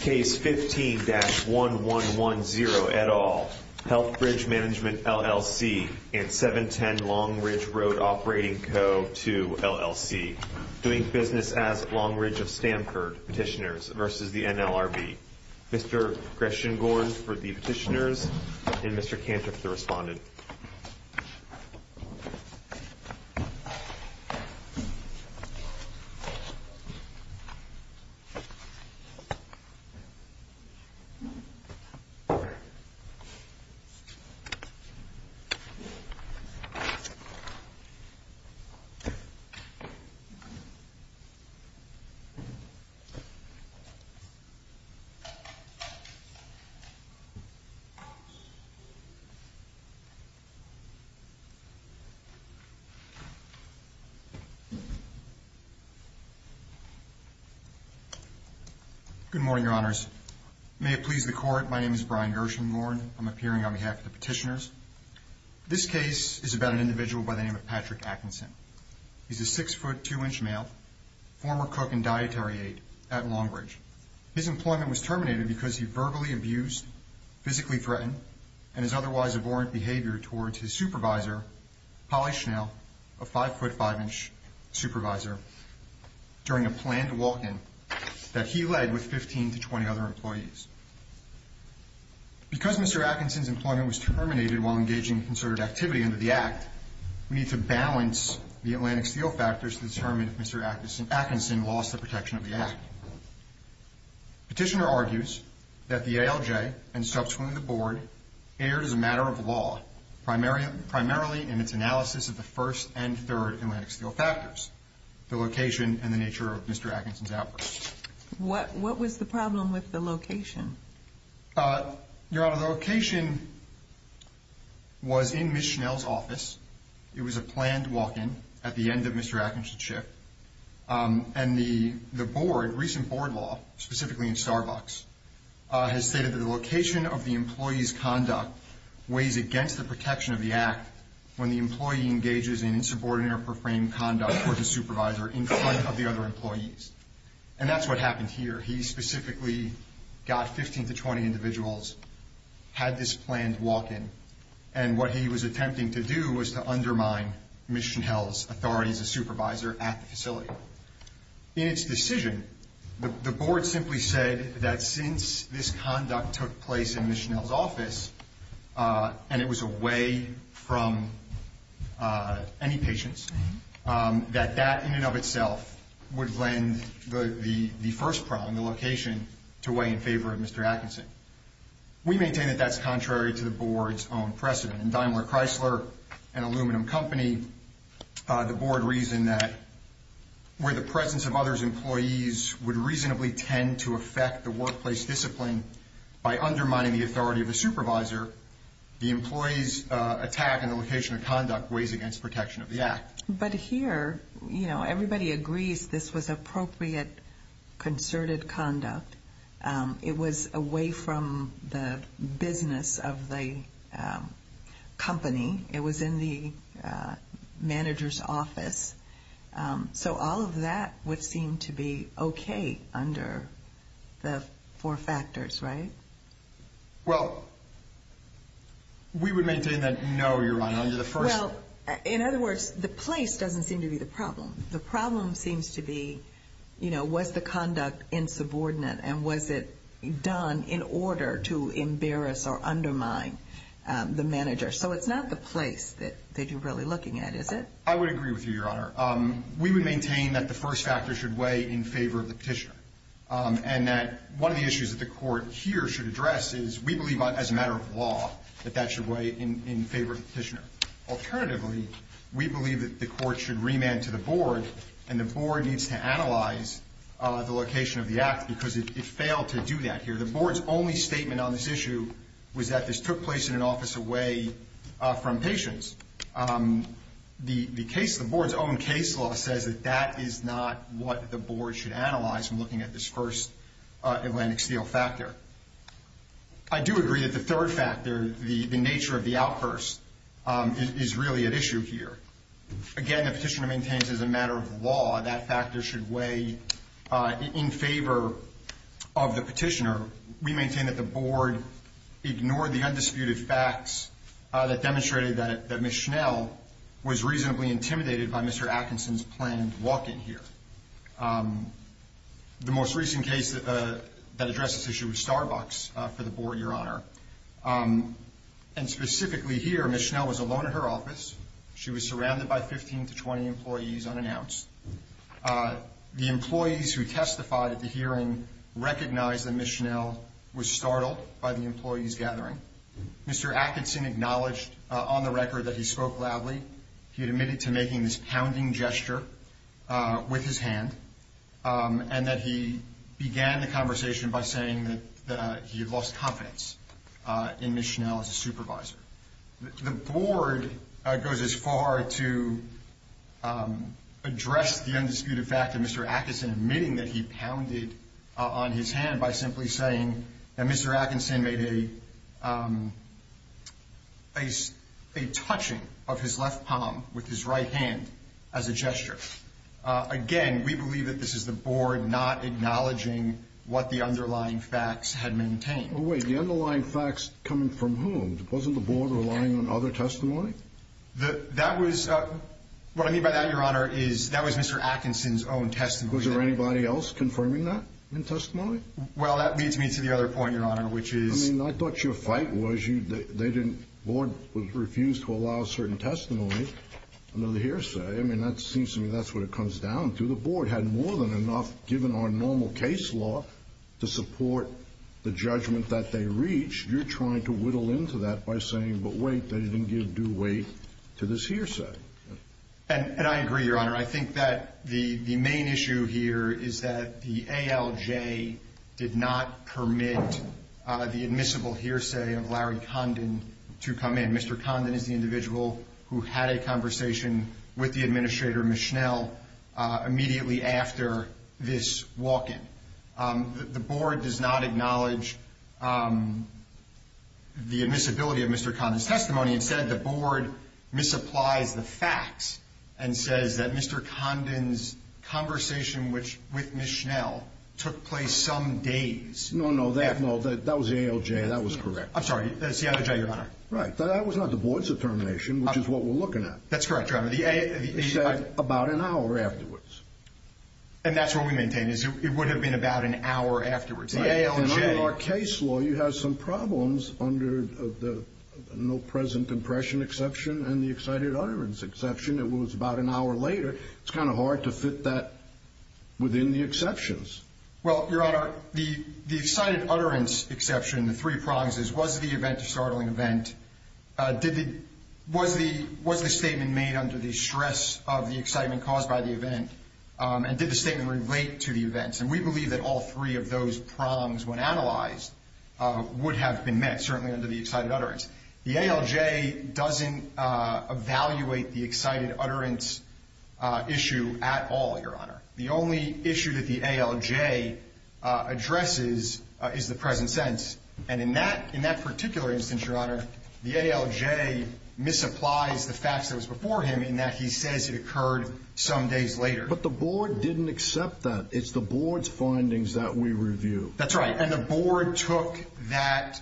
Case 15-1110 et al. Healthbridge Management, LLC and 710 Longridge Road Operating Co. to LLC Doing business as Longridge of Stamford Petitioners v. NLRB Mr. Greshengorn for the petitioners and Mr. Cantor for the respondent Mr. Greshengorn for the petitioners and Mr. Cantor for the respondent Good morning, your honors. May it please the court, my name is Brian Greshengorn. I'm appearing on behalf of the petitioners. This case is about an individual by the name of Patrick Atkinson. He's a six-foot, two-inch male, former cook and dietary aide at Longbridge. His employment was terminated because he verbally abused, physically threatened, and his otherwise abhorrent behavior towards his supervisor, Polly Schnell, a five-foot, five-inch supervisor, during a planned walk-in that he led with 15 to 20 other employees. Because Mr. Atkinson's employment was terminated while engaging in concerted activity under the Act, we need to balance the Atlantic Steel factors to determine if Mr. Atkinson lost the protection of the Act. Petitioner argues that the ALJ and subsequently the board erred as a matter of law, primarily in its analysis of the first and third Atlantic Steel factors, the location and the nature of Mr. Atkinson's outbursts. What was the problem with the location? Your honor, the location was in Ms. Schnell's office. It was a planned walk-in at the end of Mr. Atkinson's shift. And the board, recent board law, specifically in Starbucks, has stated that the location of the employee's conduct weighs against the protection of the Act when the employee engages in insubordinate or profane conduct towards a supervisor in front of the other employees. And that's what happened here. He specifically got 15 to 20 individuals, had this planned walk-in. And what he was attempting to do was to undermine Ms. Schnell's authority as a supervisor at the facility. In its decision, the board simply said that since this conduct took place in Ms. Schnell's office and it was away from any patients, that that in and of itself would lend the first problem, the location, to weigh in favor of Mr. Atkinson. We maintain that that's contrary to the board's own precedent. And Daimler Chrysler, an aluminum company, the board reasoned that where the presence of others' employees would reasonably tend to affect the workplace discipline by undermining the authority of the supervisor, the employee's attack on the location of conduct weighs against protection of the Act. But here, you know, everybody agrees this was appropriate, concerted conduct. It was away from the business of the company. It was in the manager's office. So all of that would seem to be okay under the four factors, right? Well, we would maintain that no, Your Honor, under the first. Well, in other words, the place doesn't seem to be the problem. The problem seems to be, you know, was the conduct insubordinate and was it done in order to embarrass or undermine the manager? So it's not the place that you're really looking at, is it? I would agree with you, Your Honor. We would maintain that the first factor should weigh in favor of the petitioner and that one of the issues that the court here should address is we believe as a matter of law that that should weigh in favor of the petitioner. Alternatively, we believe that the court should remand to the board and the board needs to analyze the location of the act because it failed to do that here. The board's only statement on this issue was that this took place in an office away from patients. The case, the board's own case law says that that is not what the board should analyze when looking at this first Atlantic Steel factor. I do agree that the third factor, the nature of the outburst, is really at issue here. Again, the petitioner maintains as a matter of law that factor should weigh in favor of the petitioner. We maintain that the board ignored the undisputed facts that demonstrated that Ms. Schnell was reasonably intimidated by Mr. Atkinson's planned walk-in here. The most recent case that addressed this issue was Starbucks for the board, Your Honor. And specifically here, Ms. Schnell was alone at her office. She was surrounded by 15 to 20 employees unannounced. The employees who testified at the hearing recognized that Ms. Schnell was startled by the employees' gathering. Mr. Atkinson acknowledged on the record that he spoke loudly. He admitted to making this pounding gesture with his hand and that he began the conversation by saying that he had lost confidence in Ms. Schnell as a supervisor. The board goes as far to address the undisputed fact of Mr. Atkinson admitting that he pounded on his hand by simply saying that Mr. Atkinson made a touching of his left palm with his right hand as a gesture. Again, we believe that this is the board not acknowledging what the underlying facts had maintained. Wait, the underlying facts coming from whom? Wasn't the board relying on other testimony? That was, what I mean by that, Your Honor, is that was Mr. Atkinson's own testimony. Was there anybody else confirming that in testimony? Well, that leads me to the other point, Your Honor, which is— I mean, I thought your fight was they didn't—the board refused to allow certain testimony under the hearsay. I mean, that seems to me that's what it comes down to. The board had more than enough, given our normal case law, to support the judgment that they reached. You're trying to whittle into that by saying, but wait, they didn't give due weight to this hearsay. And I agree, Your Honor. I think that the main issue here is that the ALJ did not permit the admissible hearsay of Larry Condon to come in. Mr. Condon is the individual who had a conversation with the administrator, Ms. Schnell, immediately after this walk-in. The board does not acknowledge the admissibility of Mr. Condon's testimony. Instead, the board misapplies the facts and says that Mr. Condon's conversation with Ms. Schnell took place some days— No, no, that was the ALJ. That was correct. I'm sorry. The ALJ, Your Honor. Right. That was not the board's determination, which is what we're looking at. That's correct, Your Honor. They said about an hour afterwards. And that's what we maintain, is it would have been about an hour afterwards. In our case law, you have some problems under the no present impression exception and the excited utterance exception. It was about an hour later. It's kind of hard to fit that within the exceptions. Well, Your Honor, the excited utterance exception, the three prongs, was the event a startling event? Was the statement made under the stress of the excitement caused by the event? And did the statement relate to the events? And we believe that all three of those prongs, when analyzed, would have been met, certainly under the excited utterance. The ALJ doesn't evaluate the excited utterance issue at all, Your Honor. The only issue that the ALJ addresses is the present sense. And in that particular instance, Your Honor, the ALJ misapplies the facts that was before him in that he says it occurred some days later. But the board didn't accept that. It's the board's findings that we review. That's right. And the board took that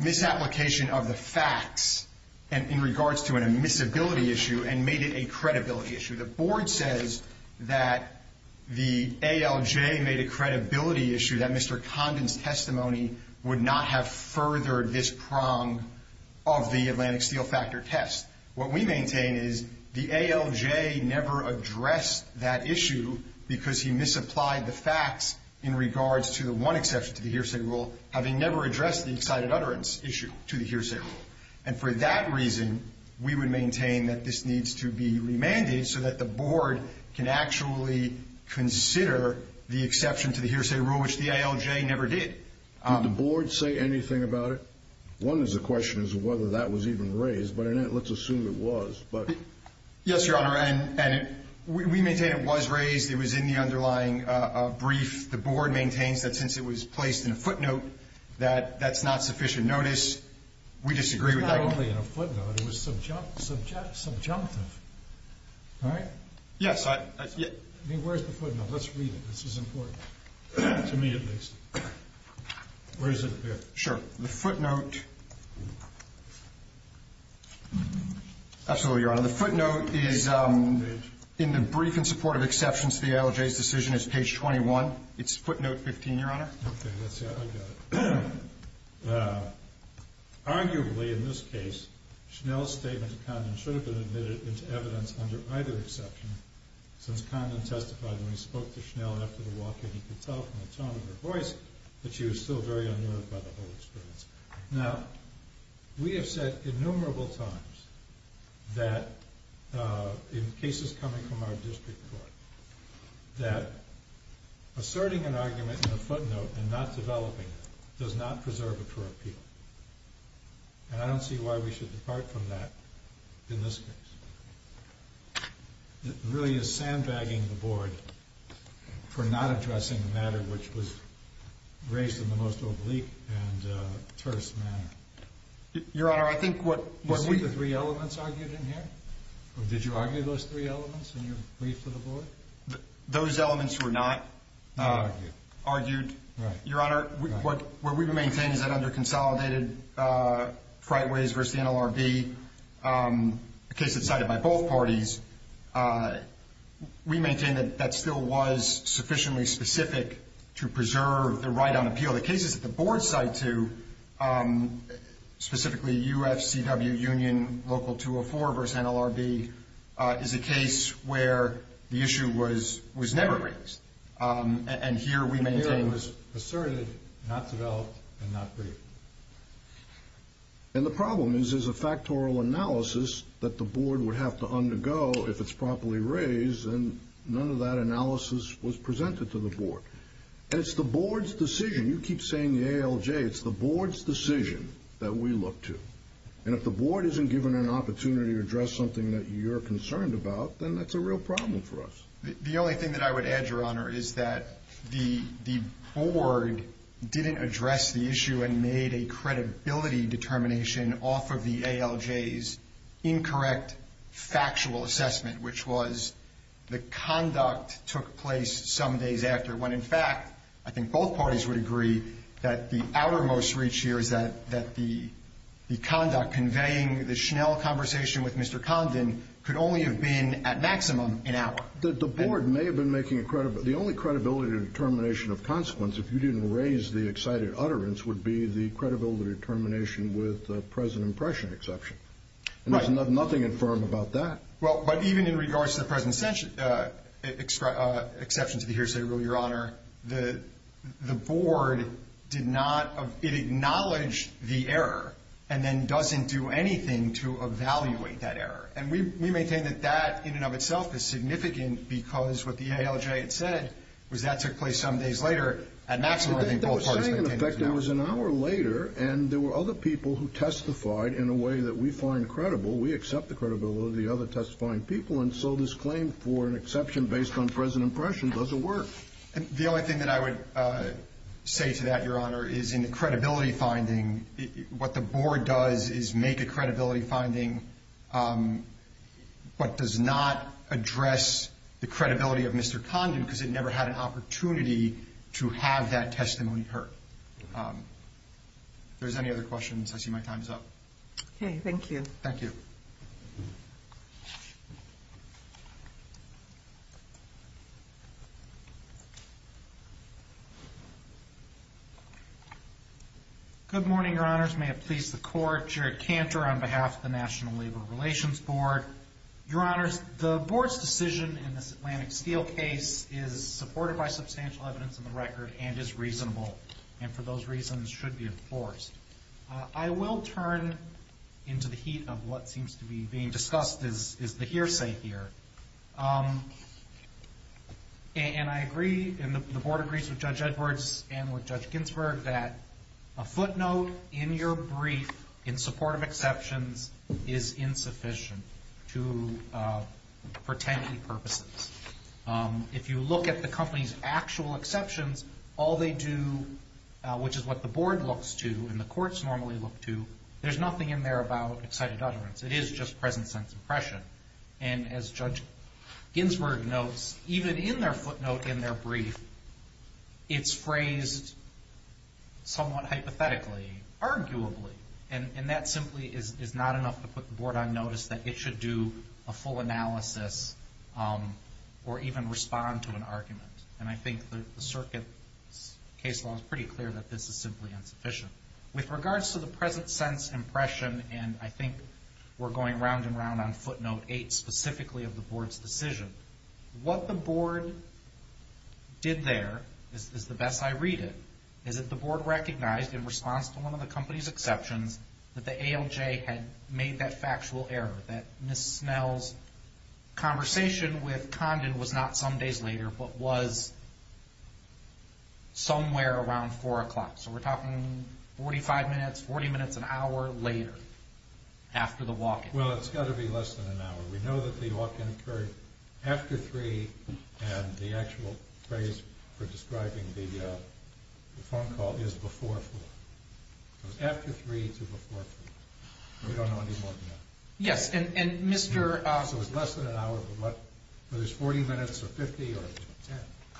misapplication of the facts in regards to an admissibility issue and made it a credibility issue. The board says that the ALJ made a credibility issue that Mr. Condon's testimony would not have furthered this prong of the Atlantic Steel Factor test. What we maintain is the ALJ never addressed that issue because he misapplied the facts in regards to the one exception to the hearsay rule, having never addressed the excited utterance issue to the hearsay rule. And for that reason, we would maintain that this needs to be remanded so that the board can actually consider the exception to the hearsay rule, which the ALJ never did. Did the board say anything about it? One is the question is whether that was even raised, but let's assume it was. Yes, Your Honor. And we maintain it was raised. It was in the underlying brief. The board maintains that since it was placed in a footnote, that that's not sufficient notice. We disagree with that. It's not only in a footnote. It was subjunctive. All right? Yes. I mean, where's the footnote? Let's read it. This is important, to me at least. Where is it? Here. Sure. The footnote. Absolutely, Your Honor. The footnote is in the brief in support of exceptions to the ALJ's decision. It's page 21. It's footnote 15, Your Honor. Okay. Let's see. I got it. Arguably, in this case, Schnell's statement to Condon should have been admitted into evidence under either exception, since Condon testified when he spoke to Schnell after the walk-in. He could tell from the tone of her voice that she was still very unnerved by the whole experience. Now, we have said innumerable times that, in cases coming from our district court, that asserting an argument in a footnote and not developing it does not preserve it for appeal. And I don't see why we should depart from that in this case. It really is sandbagging the Board for not addressing the matter which was raised in the most oblique and terse manner. Your Honor, I think what we – Did you see the three elements argued in here? Did you argue those three elements in your brief to the Board? Those elements were not argued. Your Honor, what we maintain is that under consolidated Frightways v. NLRB, a case that's cited by both parties, we maintain that that still was sufficiently specific to preserve the right on appeal. So the cases that the Board cite to, specifically U.F.C.W. Union Local 204 v. NLRB, is a case where the issue was never raised. And here we maintain it was asserted, not developed, and not briefed. And the problem is there's a factorial analysis that the Board would have to undergo if it's properly raised, and none of that analysis was presented to the Board. And it's the Board's decision. You keep saying the ALJ. It's the Board's decision that we look to. And if the Board isn't given an opportunity to address something that you're concerned about, then that's a real problem for us. The only thing that I would add, Your Honor, is that the Board didn't address the issue and made a credibility determination off of the ALJ's incorrect factual assessment, which was the conduct took place some days after when, in fact, I think both parties would agree, that the outermost reach here is that the conduct conveying the Schnell conversation with Mr. Condon could only have been, at maximum, an hour. The Board may have been making a credibility determination. The only credibility determination of consequence, if you didn't raise the excited utterance, would be the credibility determination with the present impression exception. Right. And there's nothing infirm about that. Well, but even in regards to the present exception to the hearsay rule, Your Honor, the Board did not acknowledge the error and then doesn't do anything to evaluate that error. And we maintain that that, in and of itself, is significant because what the ALJ had said was that took place some days later. At maximum, I think both parties maintain that. But they were saying, in effect, it was an hour later, and there were other people who testified in a way that we find credible. We accept the credibility of the other testifying people, and so this claim for an exception based on present impression doesn't work. The only thing that I would say to that, Your Honor, is in the credibility finding, what the Board does is make a credibility finding but does not address the credibility of Mr. Condon because it never had an opportunity to have that testimony heard. If there's any other questions, I see my time is up. Okay. Thank you. Thank you. Good morning, Your Honors. May it please the Court, Jared Cantor on behalf of the National Labor Relations Board. Your Honors, the Board's decision in this Atlantic Steel case is supported by substantial evidence in the record and is reasonable and for those reasons should be enforced. I will turn into the heat of what seems to be being discussed is the hearsay here. And I agree, and the Board agrees with Judge Edwards and with Judge Ginsburg, that a footnote in your brief in support of exceptions is insufficient to pretend any purposes. If you look at the company's actual exceptions, all they do, which is what the Board looks to and the courts normally look to, there's nothing in there about excited utterance. It is just present sense impression. And as Judge Ginsburg notes, even in their footnote in their brief, it's phrased somewhat hypothetically, arguably, and that simply is not enough to put the Board on notice that it should do a full analysis or even respond to an argument. And I think the Circuit's case law is pretty clear that this is simply insufficient. With regards to the present sense impression, and I think we're going round and round on footnote 8 specifically of the Board's decision, what the Board did there is the best I read it, is that the Board recognized in response to one of the company's exceptions that the ALJ had made that factual error, that Ms. Snell's conversation with Condon was not some days later but was somewhere around 4 o'clock. So we're talking 45 minutes, 40 minutes, an hour later after the walk-in. Well, it's got to be less than an hour. We know that the walk-in occurred after 3 and the actual phrase for describing the phone call is before 4. It was after 3 to before 3. We don't know any more than that. Yes, and Mr. So it's less than an hour, but there's 40 minutes or 50 or 10.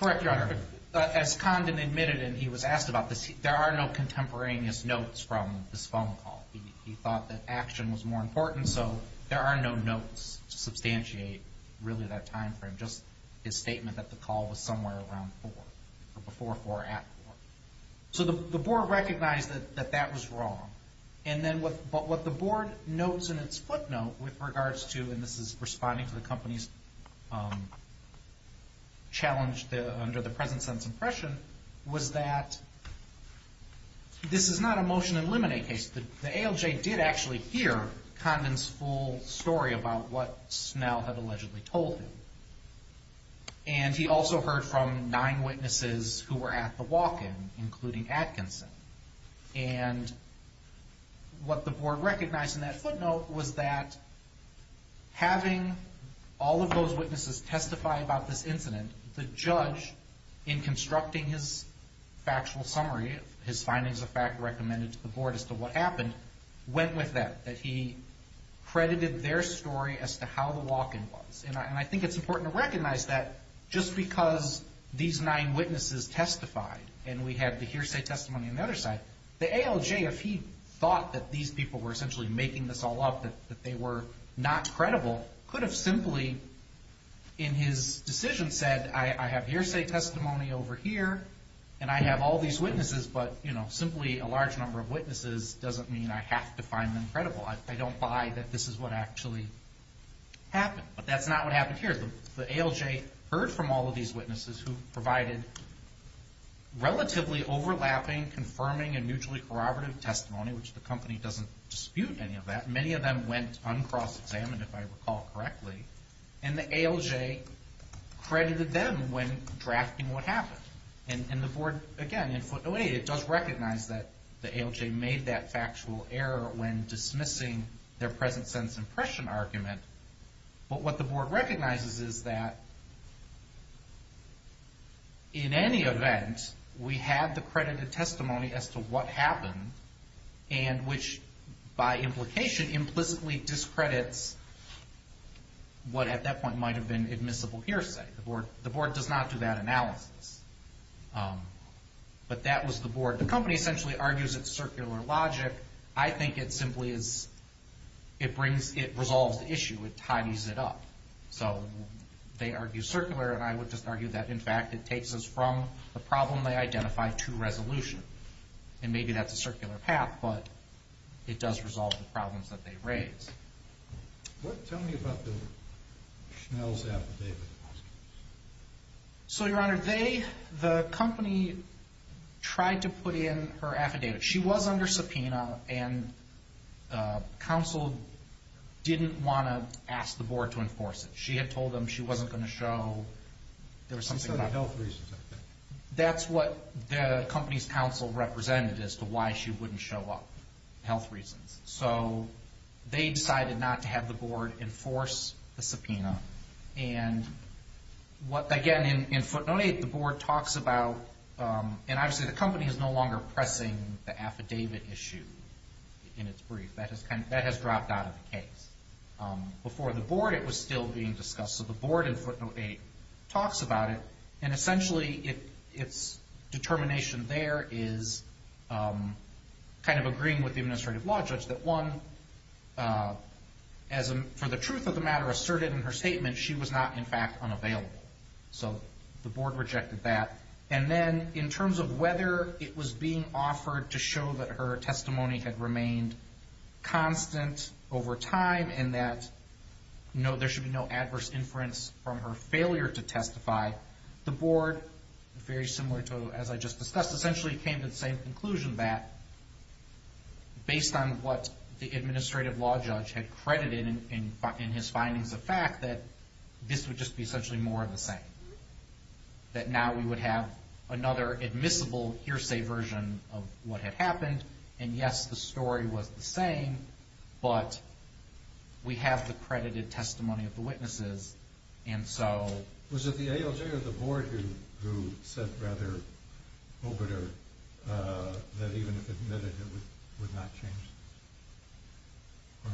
Correct, Your Honor. As Condon admitted and he was asked about this, there are no contemporaneous notes from this phone call. He thought that action was more important, so there are no notes to substantiate really that time frame, just his statement that the call was somewhere around 4 or before 4 at 4. So the Board recognized that that was wrong. And then what the Board notes in its footnote with regards to, and this is responding to the company's challenge under the present sense impression, was that this is not a motion to eliminate case. The ALJ did actually hear Condon's full story about what Snell had allegedly told him. And he also heard from nine witnesses who were at the walk-in, including Atkinson. And what the Board recognized in that footnote was that having all of those witnesses testify about this incident, the judge, in constructing his factual summary, his findings of fact recommended to the Board as to what happened, went with that, that he credited their story as to how the walk-in was. And I think it's important to recognize that just because these nine witnesses testified and we have the hearsay testimony on the other side, the ALJ, if he thought that these people were essentially making this all up, that they were not credible, could have simply in his decision said, I have hearsay testimony over here and I have all these witnesses, but simply a large number of witnesses doesn't mean I have to find them credible. I don't buy that this is what actually happened. But that's not what happened here. The ALJ heard from all of these witnesses who provided relatively overlapping, confirming, and mutually corroborative testimony, which the company doesn't dispute any of that. Many of them went uncross-examined, if I recall correctly. And the ALJ credited them when drafting what happened. And the Board, again, in footnote 8, it does recognize that the ALJ made that factual error when dismissing their present sentence impression argument. But what the Board recognizes is that in any event, we have the credited testimony as to what happened and which by implication implicitly discredits what at that point might have been admissible hearsay. The Board does not do that analysis. But that was the Board. The company essentially argues it's circular logic. I think it simply is, it resolves the issue. It tidies it up. So they argue circular, and I would just argue that, in fact, it takes us from the problem they identified to resolution. And maybe that's a circular path, but it does resolve the problems that they raise. Tell me about the Schnell's affidavit. So, Your Honor, the company tried to put in her affidavit. She was under subpoena, and counsel didn't want to ask the Board to enforce it. She had told them she wasn't going to show. Some sort of health reasons, I think. That's what the company's counsel represented as to why she wouldn't show up, health reasons. So they decided not to have the Board enforce the subpoena. And what, again, in footnote 8, the Board talks about, and obviously the company is no longer pressing the affidavit issue in its brief. That has dropped out of the case. Before the Board, it was still being discussed. So the Board in footnote 8 talks about it, and essentially its determination there is kind of agreeing with the administrative law judge that one, for the truth of the matter, asserted in her statement she was not, in fact, unavailable. So the Board rejected that. And then in terms of whether it was being offered to show that her testimony had remained constant over time and that there should be no adverse inference from her failure to testify, the Board, very similar to as I just discussed, essentially came to the same conclusion that based on what the administrative law judge had credited in his findings of fact, that this would just be essentially more of the same. That now we would have another admissible hearsay version of what had happened, and yes, the story was the same, but we have the credited testimony of the witnesses. And so... Was it the ALJ or the Board who said, rather, that even if admitted, it would not change?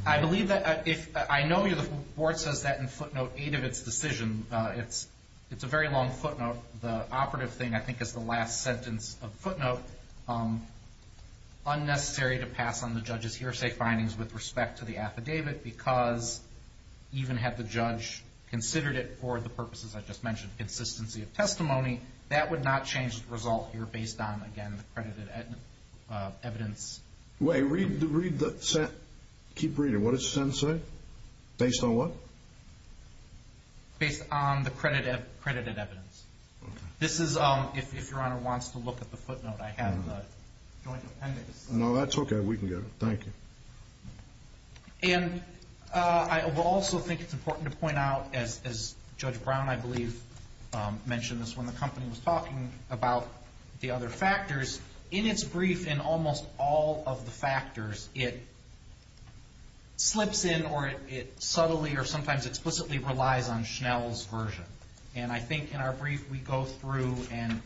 I believe that... I know the Board says that in footnote 8 of its decision. It's a very long footnote. The operative thing, I think, is the last sentence of footnote. Unnecessary to pass on the judge's hearsay findings with respect to the affidavit because even had the judge considered it for the purposes I just mentioned, consistency of testimony, that would not change the result here based on, again, the credited evidence. Wait, read the sentence. Keep reading. What does the sentence say? Based on what? Based on the credited evidence. This is, if Your Honor wants to look at the footnote, I have the joint appendix. No, that's okay. We can get it. Thank you. And I will also think it's important to point out, as Judge Brown, I believe, mentioned this when the company was talking about the other factors, in its brief, in almost all of the factors, it slips in or it subtly or sometimes explicitly relies on Schnell's version. And I think in our brief, we go through, and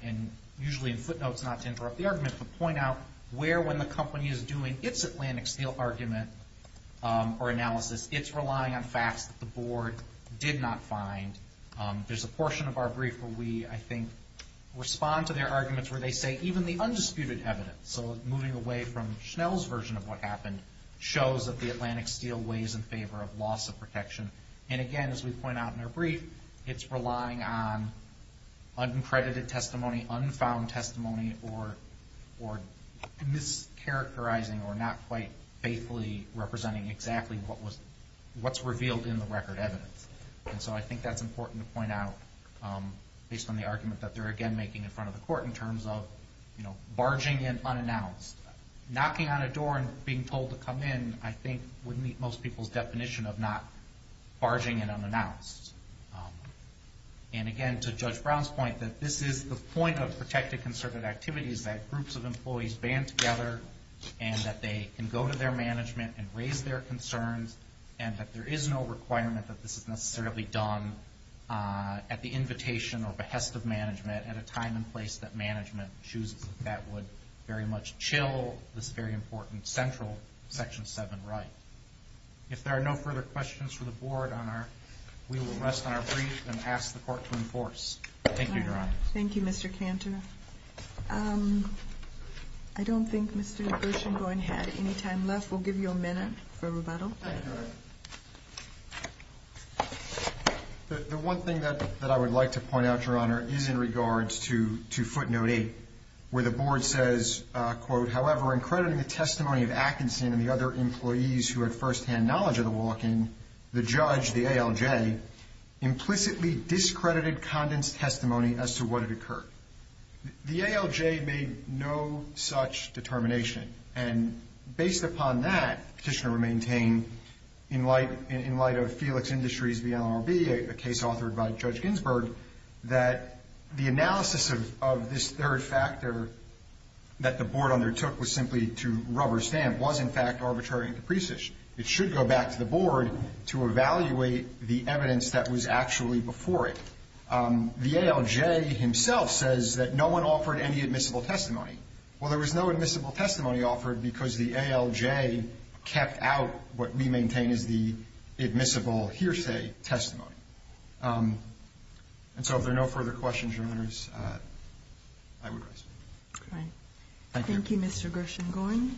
usually in footnotes, not to interrupt the argument, but point out where when the company is doing its Atlantic Steel argument or analysis, it's relying on facts that the Board did not find. There's a portion of our brief where we, I think, respond to their arguments where they say even the undisputed evidence, so moving away from Schnell's version of what happened, shows that the Atlantic Steel weighs in favor of loss of protection. And again, as we point out in our brief, it's relying on uncredited testimony, unfound testimony, or mischaracterizing or not quite faithfully representing exactly what's revealed in the record evidence. And so I think that's important to point out, based on the argument that they're again making in front of the court in terms of, you know, barging in unannounced. Knocking on a door and being told to come in, I think, would meet most people's definition of not barging in unannounced. And again, to Judge Brown's point, that this is the point of protected conservative activities, that groups of employees band together and that they can go to their management and raise their concerns, and that there is no requirement that this is necessarily done at the invitation or behest of management at a time and place that management chooses. That would very much chill this very important central Section 7 right. If there are no further questions for the Board, we will rest on our brief and ask the Court to enforce. Thank you, Your Honor. Thank you, Mr. Cantor. I don't think Mr. DeGrosse and Goyn had any time left. We'll give you a minute for rebuttal. The one thing that I would like to point out, Your Honor, is in regards to Footnote 8, where the Board says, quote, however, in crediting the testimony of Atkinson and the other employees who had firsthand knowledge of the walking, the judge, the ALJ, implicitly discredited Condon's testimony as to what had occurred. The ALJ made no such determination. And based upon that, the Petitioner would maintain, in light of Felix Industries v. LRB, a case authored by Judge Ginsburg, that the analysis of this third factor that the Board undertook was simply to rubber stamp was, in fact, arbitrary and capricious. It should go back to the Board to evaluate the evidence that was actually before it. The ALJ himself says that no one offered any admissible testimony. Well, there was no admissible testimony offered because the ALJ kept out what we maintain is the admissible hearsay testimony. And so if there are no further questions, Your Honors, I would rise. All right. Thank you, Mr. Gershengorn.